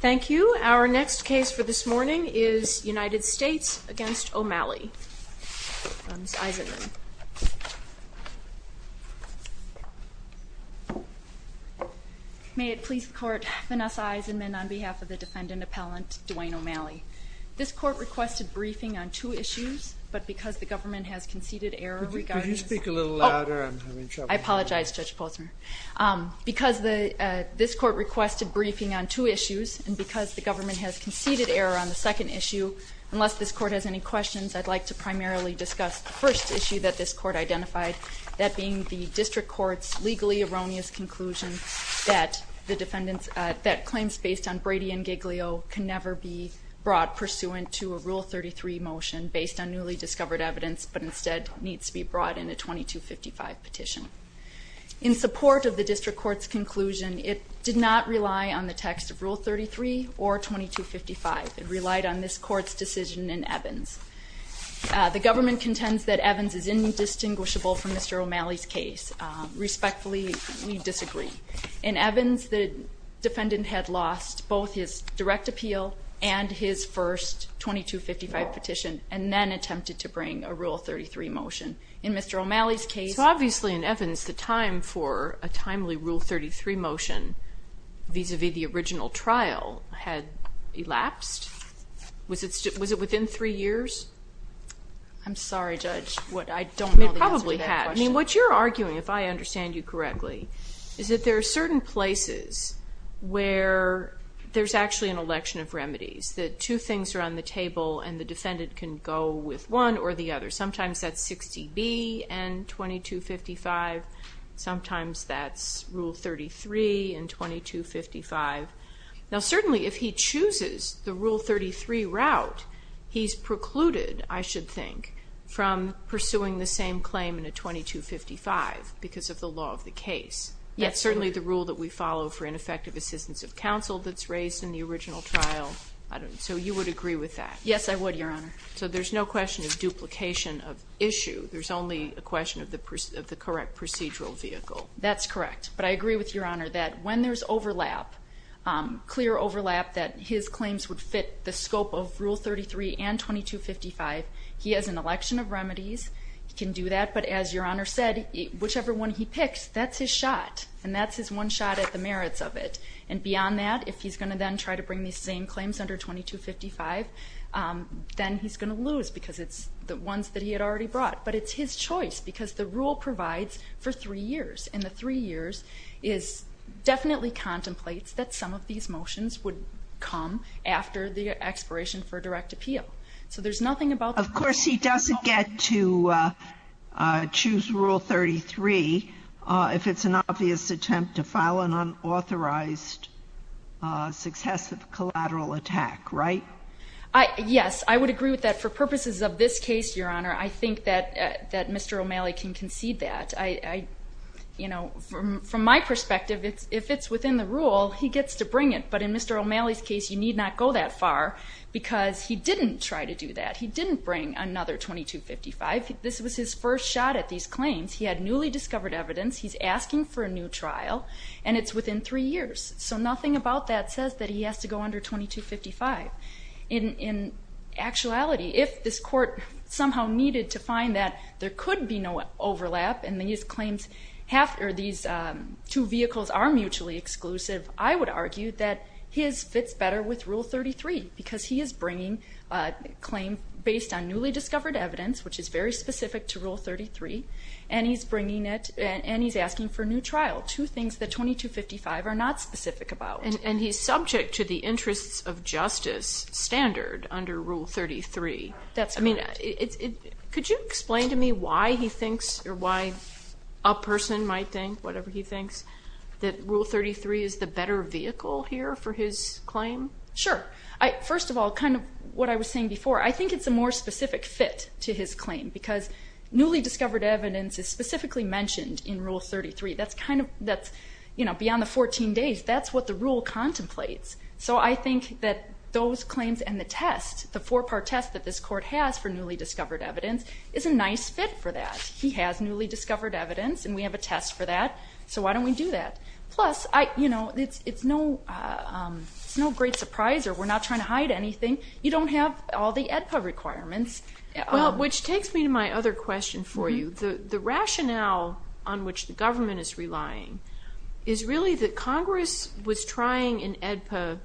Thank you. Our next case for this morning is United States v. O'Malley. Ms. Eisenman. May it please the court, Vanessa Eisenman on behalf of the defendant appellant Duane O'Malley. This court requested briefing on two issues, but because the government has conceded error regarding... Could you speak a little louder? I'm having trouble here. I apologize, Judge Posner. Because this court requested briefing on two issues, and because the government has conceded error on the second issue, unless this court has any questions, I'd like to primarily discuss the first issue that this court identified, that being the district court's legally erroneous conclusion that claims based on Brady and Giglio can never be brought pursuant to a Rule 33 motion based on newly discovered evidence, but instead needs to be brought in a 2255 petition. In support of the district court's conclusion, it did not rely on the text of Rule 33 or 2255. It relied on this court's decision in Evans. The government contends that Evans is indistinguishable from Mr. O'Malley's case. Respectfully, we disagree. In Evans, the defendant had lost both his direct appeal and his first 2255 petition, and then attempted to bring a Rule 33 motion. In Mr. O'Malley's case... So obviously in Evans, the time for a timely Rule 33 motion vis-à-vis the original trial had elapsed? Was it within three years? I'm sorry, Judge. I don't know the answer to that question. It probably had. I mean, what you're arguing, if I understand you correctly, is that there are certain places where there's actually an election of remedies, that two things are on the table and the defendant can go with one or the other. Sometimes that's 60B and 2255. Sometimes that's Rule 33 and 2255. Now, certainly if he chooses the Rule 33 route, he's precluded, I should think, from pursuing the same claim in a 2255 because of the law of the case. That's certainly the rule that we follow for ineffective assistance of counsel that's raised in the original trial. So you would agree with that? Yes, I would, Your Honor. So there's no question of duplication of issue. There's only a question of the correct procedural vehicle. That's correct. But I agree with Your Honor that when there's overlap, clear overlap that his claims would fit the scope of Rule 33 and 2255, he has an election of remedies. He can do that. But as Your Honor said, whichever one he picks, that's his shot, and that's his one shot at the merits of it. And beyond that, if he's going to then try to bring these same claims under 2255, then he's going to lose because it's the ones that he had already brought. But it's his choice because the rule provides for three years, and the three years definitely contemplates that some of these motions would come after the expiration for direct appeal. So there's nothing about the rule. Of course he doesn't get to choose Rule 33 if it's an obvious attempt to file an unauthorized successive collateral attack, right? Yes. I would agree with that. For purposes of this case, Your Honor, I think that Mr. O'Malley can concede that. From my perspective, if it's within the rule, he gets to bring it. But in Mr. O'Malley's case, you need not go that far because he didn't try to do that. He didn't bring another 2255. This was his first shot at these claims. He had newly discovered evidence. He's asking for a new trial. And it's within three years. So nothing about that says that he has to go under 2255. In actuality, if this court somehow needed to find that there could be no overlap and these two vehicles are mutually exclusive, I would argue that his fits better with Rule 33 because he is bringing a claim based on newly discovered evidence, which is very specific to Rule 33, and he's asking for a new trial. Two things that 2255 are not specific about. And he's subject to the interests of justice standard under Rule 33. That's correct. Could you explain to me why he thinks, or why a person might think, whatever he thinks, that Rule 33 is the better vehicle here for his claim? Sure. First of all, kind of what I was saying before, I think it's a more specific fit to his claim because newly discovered evidence is specifically mentioned in Rule 33. Beyond the 14 days, that's what the rule contemplates. So I think that those claims and the test, the four-part test that this court has for newly discovered evidence, is a nice fit for that. He has newly discovered evidence, and we have a test for that, so why don't we do that? Plus, it's no great surprise, or we're not trying to hide anything. You don't have all the AEDPA requirements. Well, which takes me to my other question for you. The rationale on which the government is relying is really that Congress was trying in AEDPA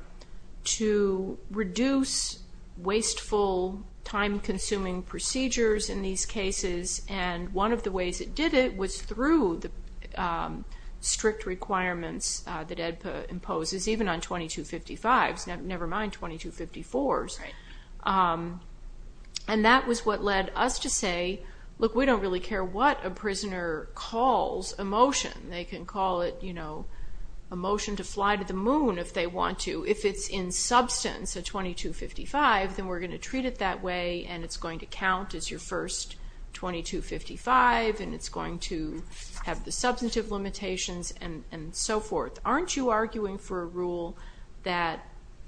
to reduce wasteful, time-consuming procedures in these cases, and one of the ways it did it was through the strict requirements that AEDPA imposes, even on 2255s, never mind 2254s. And that was what led us to say, look, we don't really care what a prisoner calls a motion. They can call it a motion to fly to the moon if they want to. If it's in substance, a 2255, then we're going to treat it that way, and it's going to count as your first 2255, and it's going to have the substantive limitations, and so forth. Aren't you arguing for a rule that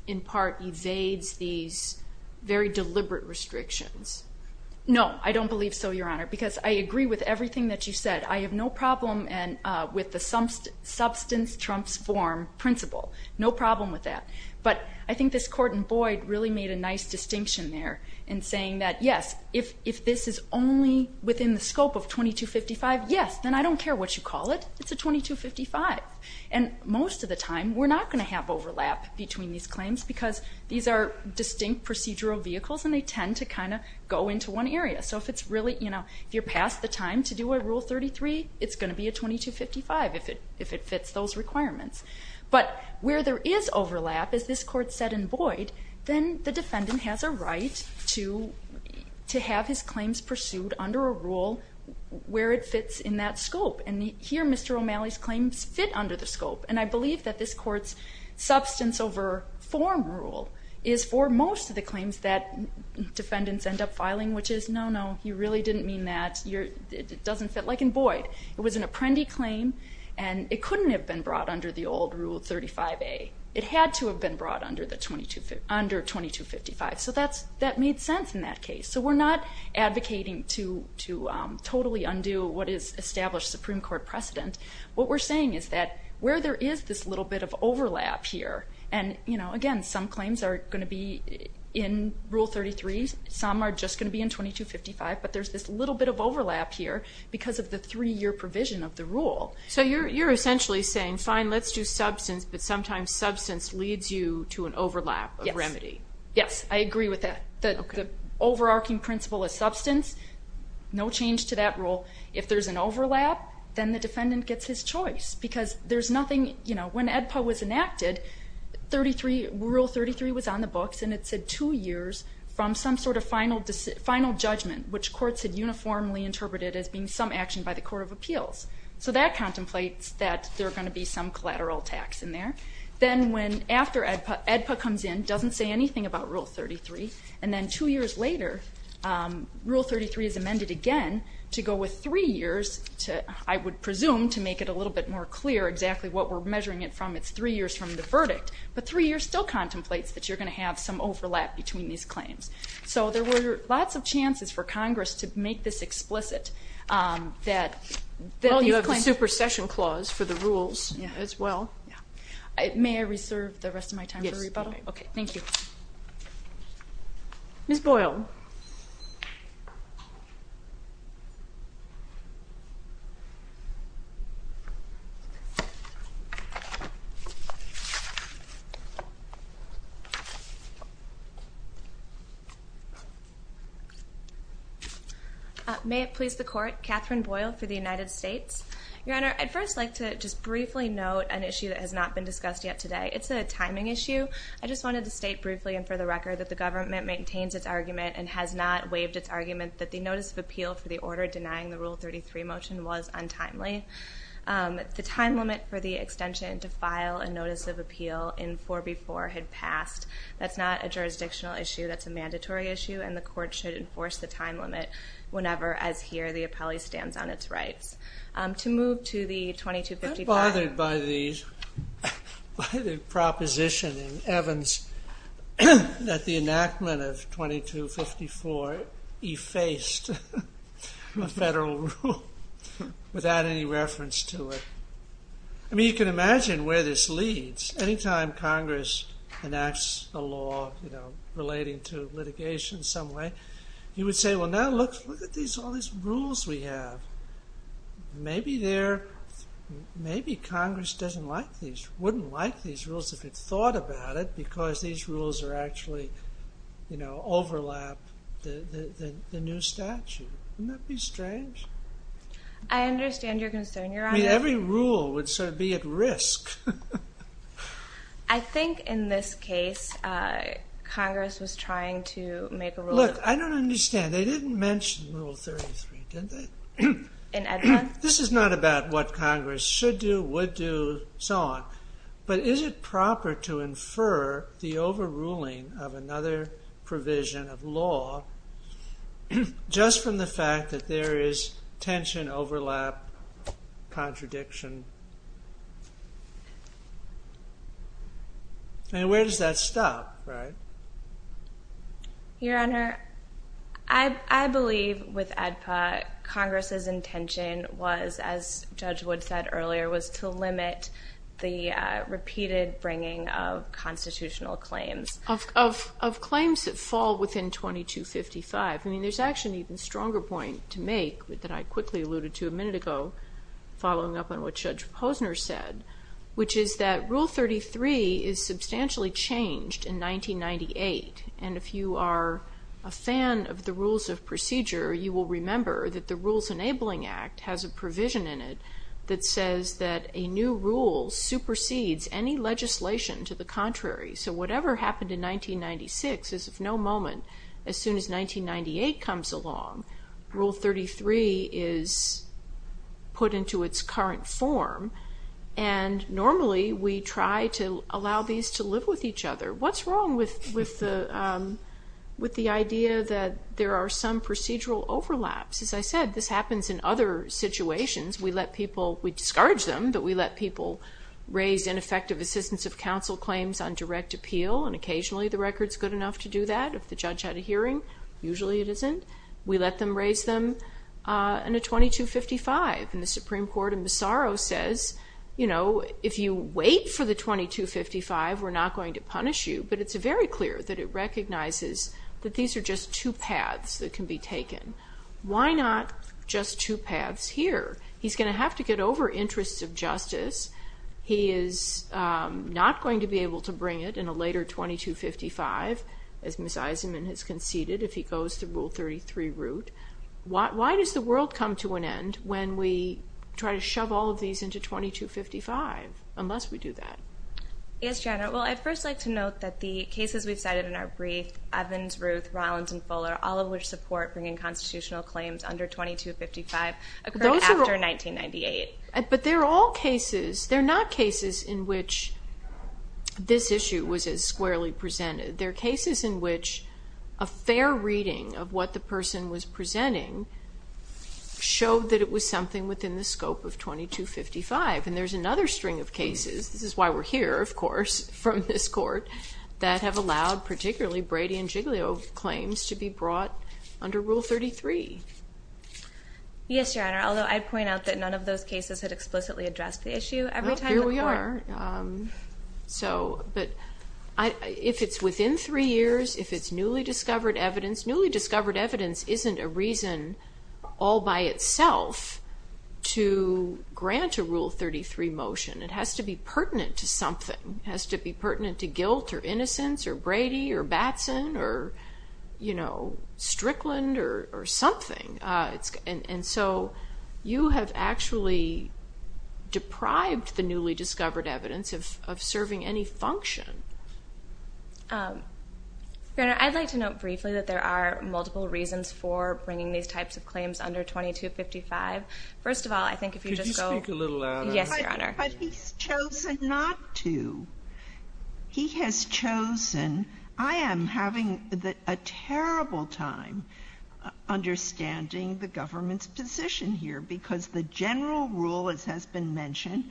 in part evades these very deliberate restrictions? No, I don't believe so, Your Honor, because I agree with everything that you said. I have no problem with the substance trumps form principle. No problem with that. But I think this court in Boyd really made a nice distinction there in saying that, yes, if this is only within the scope of 2255, yes, then I don't care what you call it. It's a 2255. And most of the time we're not going to have overlap between these claims because these are distinct procedural vehicles and they tend to kind of go into one area. So if you're past the time to do a Rule 33, it's going to be a 2255 if it fits those requirements. But where there is overlap, as this court said in Boyd, then the defendant has a right to have his claims pursued under a rule where it fits in that scope. And here Mr. O'Malley's claims fit under the scope. And I believe that this court's substance over form rule is for most of the claims that defendants end up filing, which is, no, no, you really didn't mean that. It doesn't fit. Like in Boyd, it was an apprendi claim and it couldn't have been brought under the old Rule 35A. It had to have been brought under 2255. So that made sense in that case. So we're not advocating to totally undo what is established Supreme Court precedent. What we're saying is that where there is this little bit of overlap here, and, again, some claims are going to be in Rule 33, some are just going to be in 2255, but there's this little bit of overlap here because of the three-year provision of the rule. So you're essentially saying, fine, let's do substance, but sometimes substance leads you to an overlap of remedy. Yes, I agree with that. The overarching principle is substance, no change to that rule. If there's an overlap, then the defendant gets his choice because there's nothing, you know. When AEDPA was enacted, Rule 33 was on the books and it said two years from some sort of final judgment, which courts had uniformly interpreted as being some action by the Court of Appeals. So that contemplates that there are going to be some collateral tax in there. Then after AEDPA comes in, doesn't say anything about Rule 33, and then two years later, Rule 33 is amended again to go with three years, I would presume, to make it a little bit more clear exactly what we're measuring it from. It's three years from the verdict. But three years still contemplates that you're going to have some overlap between these claims. So there were lots of chances for Congress to make this explicit. Well, you have the supersession clause for the rules as well. May I reserve the rest of my time for rebuttal? All right, okay, thank you. Ms. Boyle. May it please the Court, Catherine Boyle for the United States. Your Honor, I'd first like to just briefly note an issue that has not been discussed yet today. It's a timing issue. I just wanted to state briefly and for the record that the government maintains its argument and has not waived its argument that the notice of appeal for the order denying the Rule 33 motion was untimely. The time limit for the extension to file a notice of appeal in 4B4 had passed. That's not a jurisdictional issue. That's a mandatory issue, and the Court should enforce the time limit whenever, as here, the appellee stands on its rights. To move to the 2255. I'm really bothered by the proposition in Evans that the enactment of 2254 effaced a federal rule without any reference to it. I mean, you can imagine where this leads. Anytime Congress enacts a law relating to litigation in some way, you would say, well, now look at all these rules we have. Maybe there, maybe Congress doesn't like these, wouldn't like these rules if it thought about it because these rules are actually, you know, overlap the new statute. Wouldn't that be strange? I understand your concern, Your Honor. I mean, every rule would sort of be at risk. I think in this case, Congress was trying to make a rule. Look, I don't understand. And they didn't mention Rule 33, did they? In Edmunds? This is not about what Congress should do, would do, so on. But is it proper to infer the overruling of another provision of law just from the fact that there is tension, overlap, contradiction? I mean, where does that stop, right? Your Honor, I believe with ADPA, Congress's intention was, as Judge Wood said earlier, was to limit the repeated bringing of constitutional claims. Of claims that fall within 2255. I mean, there's actually an even stronger point to make that I quickly alluded to a minute ago, following up on what Judge Posner said, which is that Rule 33 is substantially changed in 1998. And if you are a fan of the Rules of Procedure, you will remember that the Rules Enabling Act has a provision in it that says that a new rule supersedes any legislation to the contrary. So whatever happened in 1996 is of no moment, as soon as 1998 comes along, Rule 33 is put into its current form. And normally we try to allow these to live with each other. What's wrong with the idea that there are some procedural overlaps? As I said, this happens in other situations. We let people, we discourage them, but we let people raise ineffective assistance of counsel claims on direct appeal. And occasionally the record's good enough to do that. If the judge had a hearing, usually it isn't. We let them raise them in a 2255. And the Supreme Court in Massaro says, you know, if you wait for the 2255, we're not going to punish you. But it's very clear that it recognizes that these are just two paths that can be taken. Why not just two paths here? He's going to have to get over interests of justice. He is not going to be able to bring it in a later 2255, as Ms. Eisenman has conceded, if he goes the Rule 33 route. Why does the world come to an end when we try to shove all of these into 2255, unless we do that? Yes, Janet. Well, I'd first like to note that the cases we've cited in our brief, Evans, Ruth, Rollins, and Fuller, all of which support bringing constitutional claims under 2255, occurred after 1998. But they're all cases. They're not cases in which this issue was as squarely presented. They're cases in which a fair reading of what the person was presenting showed that it was something within the scope of 2255. And there's another string of cases, this is why we're here, of course, from this court, that have allowed particularly Brady and Giglio claims to be brought under Rule 33. Yes, Your Honor, although I'd point out that none of those cases had explicitly addressed the issue. Well, here we are. But if it's within three years, if it's newly discovered evidence, newly discovered evidence isn't a reason all by itself to grant a Rule 33 motion. It has to be pertinent to something. It has to be pertinent to guilt or innocence or Brady or Batson or Strickland or something. And so you have actually deprived the newly discovered evidence of serving any function. Your Honor, I'd like to note briefly that there are multiple reasons for bringing these types of claims under 2255. First of all, I think if you just go... Could you speak a little louder? Yes, Your Honor. But he's chosen not to. He has chosen. I am having a terrible time understanding the government's position here because the general rule, as has been mentioned,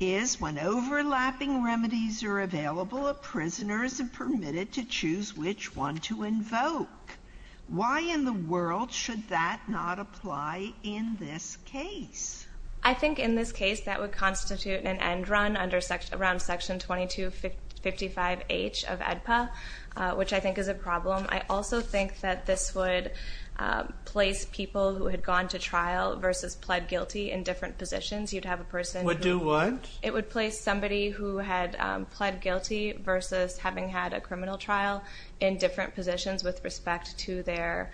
is when overlapping remedies are available, a prisoner isn't permitted to choose which one to invoke. Why in the world should that not apply in this case? I think in this case that would constitute an end run around Section 2255H of AEDPA, which I think is a problem. I also think that this would place people who had gone to trial versus pled guilty in different positions. You'd have a person who... Would do what? It would place somebody who had pled guilty versus having had a criminal trial in different positions with respect to their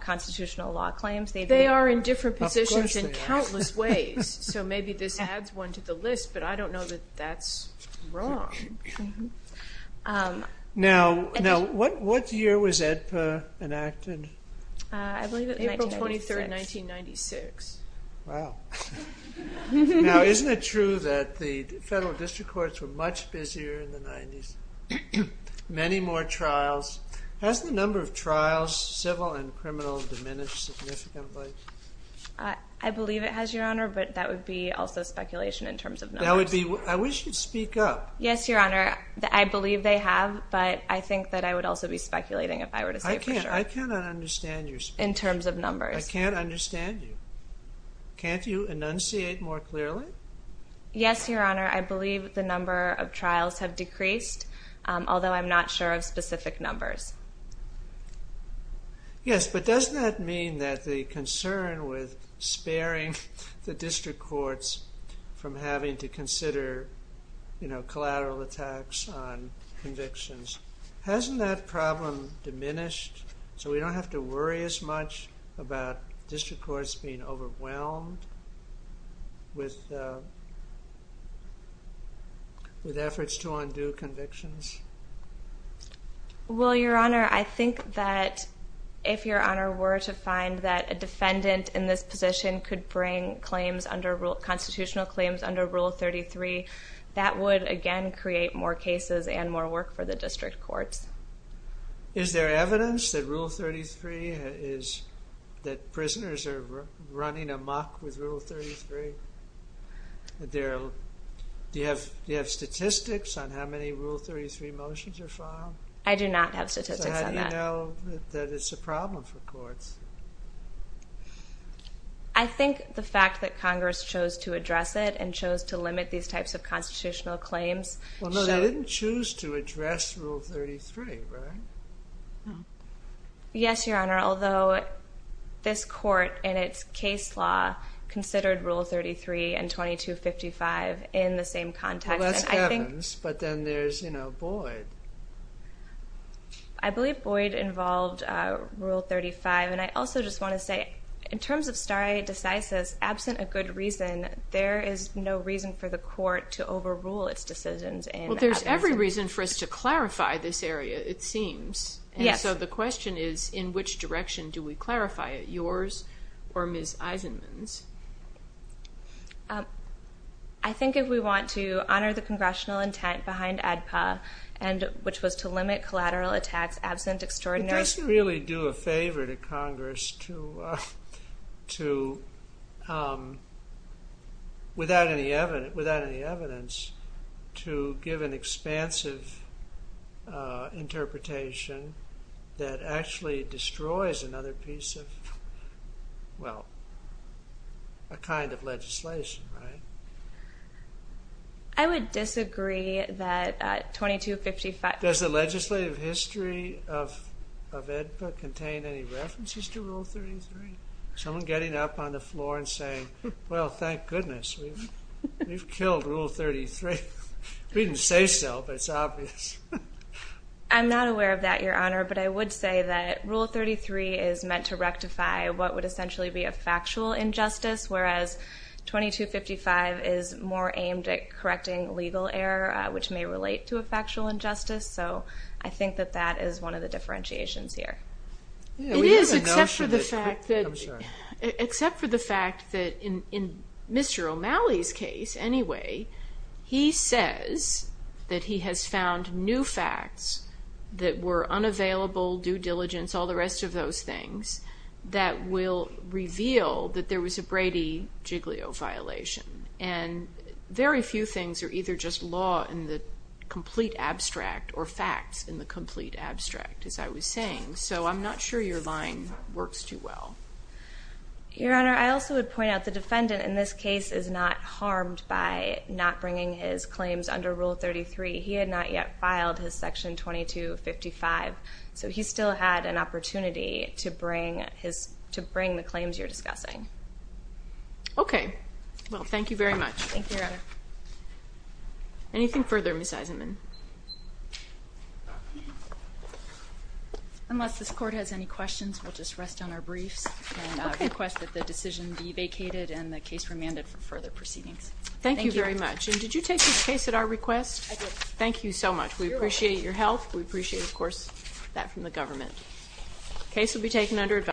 constitutional law claims. They are in different positions in countless ways. So maybe this adds one to the list, but I don't know that that's wrong. Now, what year was AEDPA enacted? I believe it was April 23, 1996. Wow. Now, isn't it true that the federal district courts were much busier in the 90s? Many more trials. Has the number of trials, civil and criminal, diminished significantly? I believe it has, Your Honor, but that would be also speculation in terms of numbers. I wish you'd speak up. Yes, Your Honor. I believe they have, but I think that I would also be speculating if I were to say for sure. I cannot understand your speech. In terms of numbers. I can't understand you. Can't you enunciate more clearly? Yes, Your Honor. I believe the number of trials have decreased, although I'm not sure of specific numbers. Yes, but doesn't that mean that the concern with sparing the district courts from having to consider, you know, collateral attacks on convictions, hasn't that problem diminished so we don't have to worry as much about district courts being overwhelmed with efforts to undo convictions? Well, Your Honor, I think that if, Your Honor, were to find that a defendant in this position could bring constitutional claims under Rule 33, that would, again, create more cases and more work for the district courts. Is there evidence that Rule 33 is, that prisoners are running amok with Rule 33? Do you have statistics on how many Rule 33 motions are filed? I do not have statistics on that. So how do you know that it's a problem for courts? I think the fact that Congress chose to address it and chose to limit these types of constitutional claims. Well, no, they didn't choose to address Rule 33, right? Yes, Your Honor, although this court and its case law considered Rule 33 and 2255 in the same context. Well, that's Kevins, but then there's, you know, Boyd. I believe Boyd involved Rule 35, and I also just want to say, in terms of stare decisis, absent a good reason, there is no reason for the court to overrule its decisions. Well, there's every reason for us to clarify this area, it seems. Yes. And so the question is, in which direction do we clarify it, yours or Ms. Eisenman's? I think if we want to honor the congressional intent behind ADPA, which was to limit collateral attacks absent extraordinary... It doesn't really do a favor to Congress to, without any evidence, to give an expansive interpretation that actually destroys another piece of, well, a kind of legislation, right? I would disagree that 2255... Does the legislative history of ADPA contain any references to Rule 33? Someone getting up on the floor and saying, well, thank goodness, we've killed Rule 33. We didn't say so, but it's obvious. I'm not aware of that, Your Honor, but I would say that Rule 33 is meant to rectify what would essentially be a factual injustice, whereas 2255 is more aimed at correcting legal error, which may relate to a factual injustice. So I think that that is one of the differentiations here. It is, except for the fact that in Mr. O'Malley's case, anyway, he says that he has found new facts that were unavailable, due diligence, all the rest of those things, that will reveal that there was a Brady-Giglio violation. And very few things are either just law in the complete abstract or facts in the complete abstract, as I was saying. So I'm not sure your line works too well. Your Honor, I also would point out the defendant in this case is not harmed by not bringing his claims under Rule 33. He had not yet filed his Section 2255, so he still had an opportunity to bring the claims you're discussing. Okay. Well, thank you very much. Thank you, Your Honor. Anything further, Ms. Eisenman? Unless this Court has any questions, we'll just rest on our briefs and request that the decision be vacated and the case remanded for further proceedings. Thank you very much. And did you take this case at our request? I did. Thank you so much. We appreciate your help. We appreciate, of course, that from the government.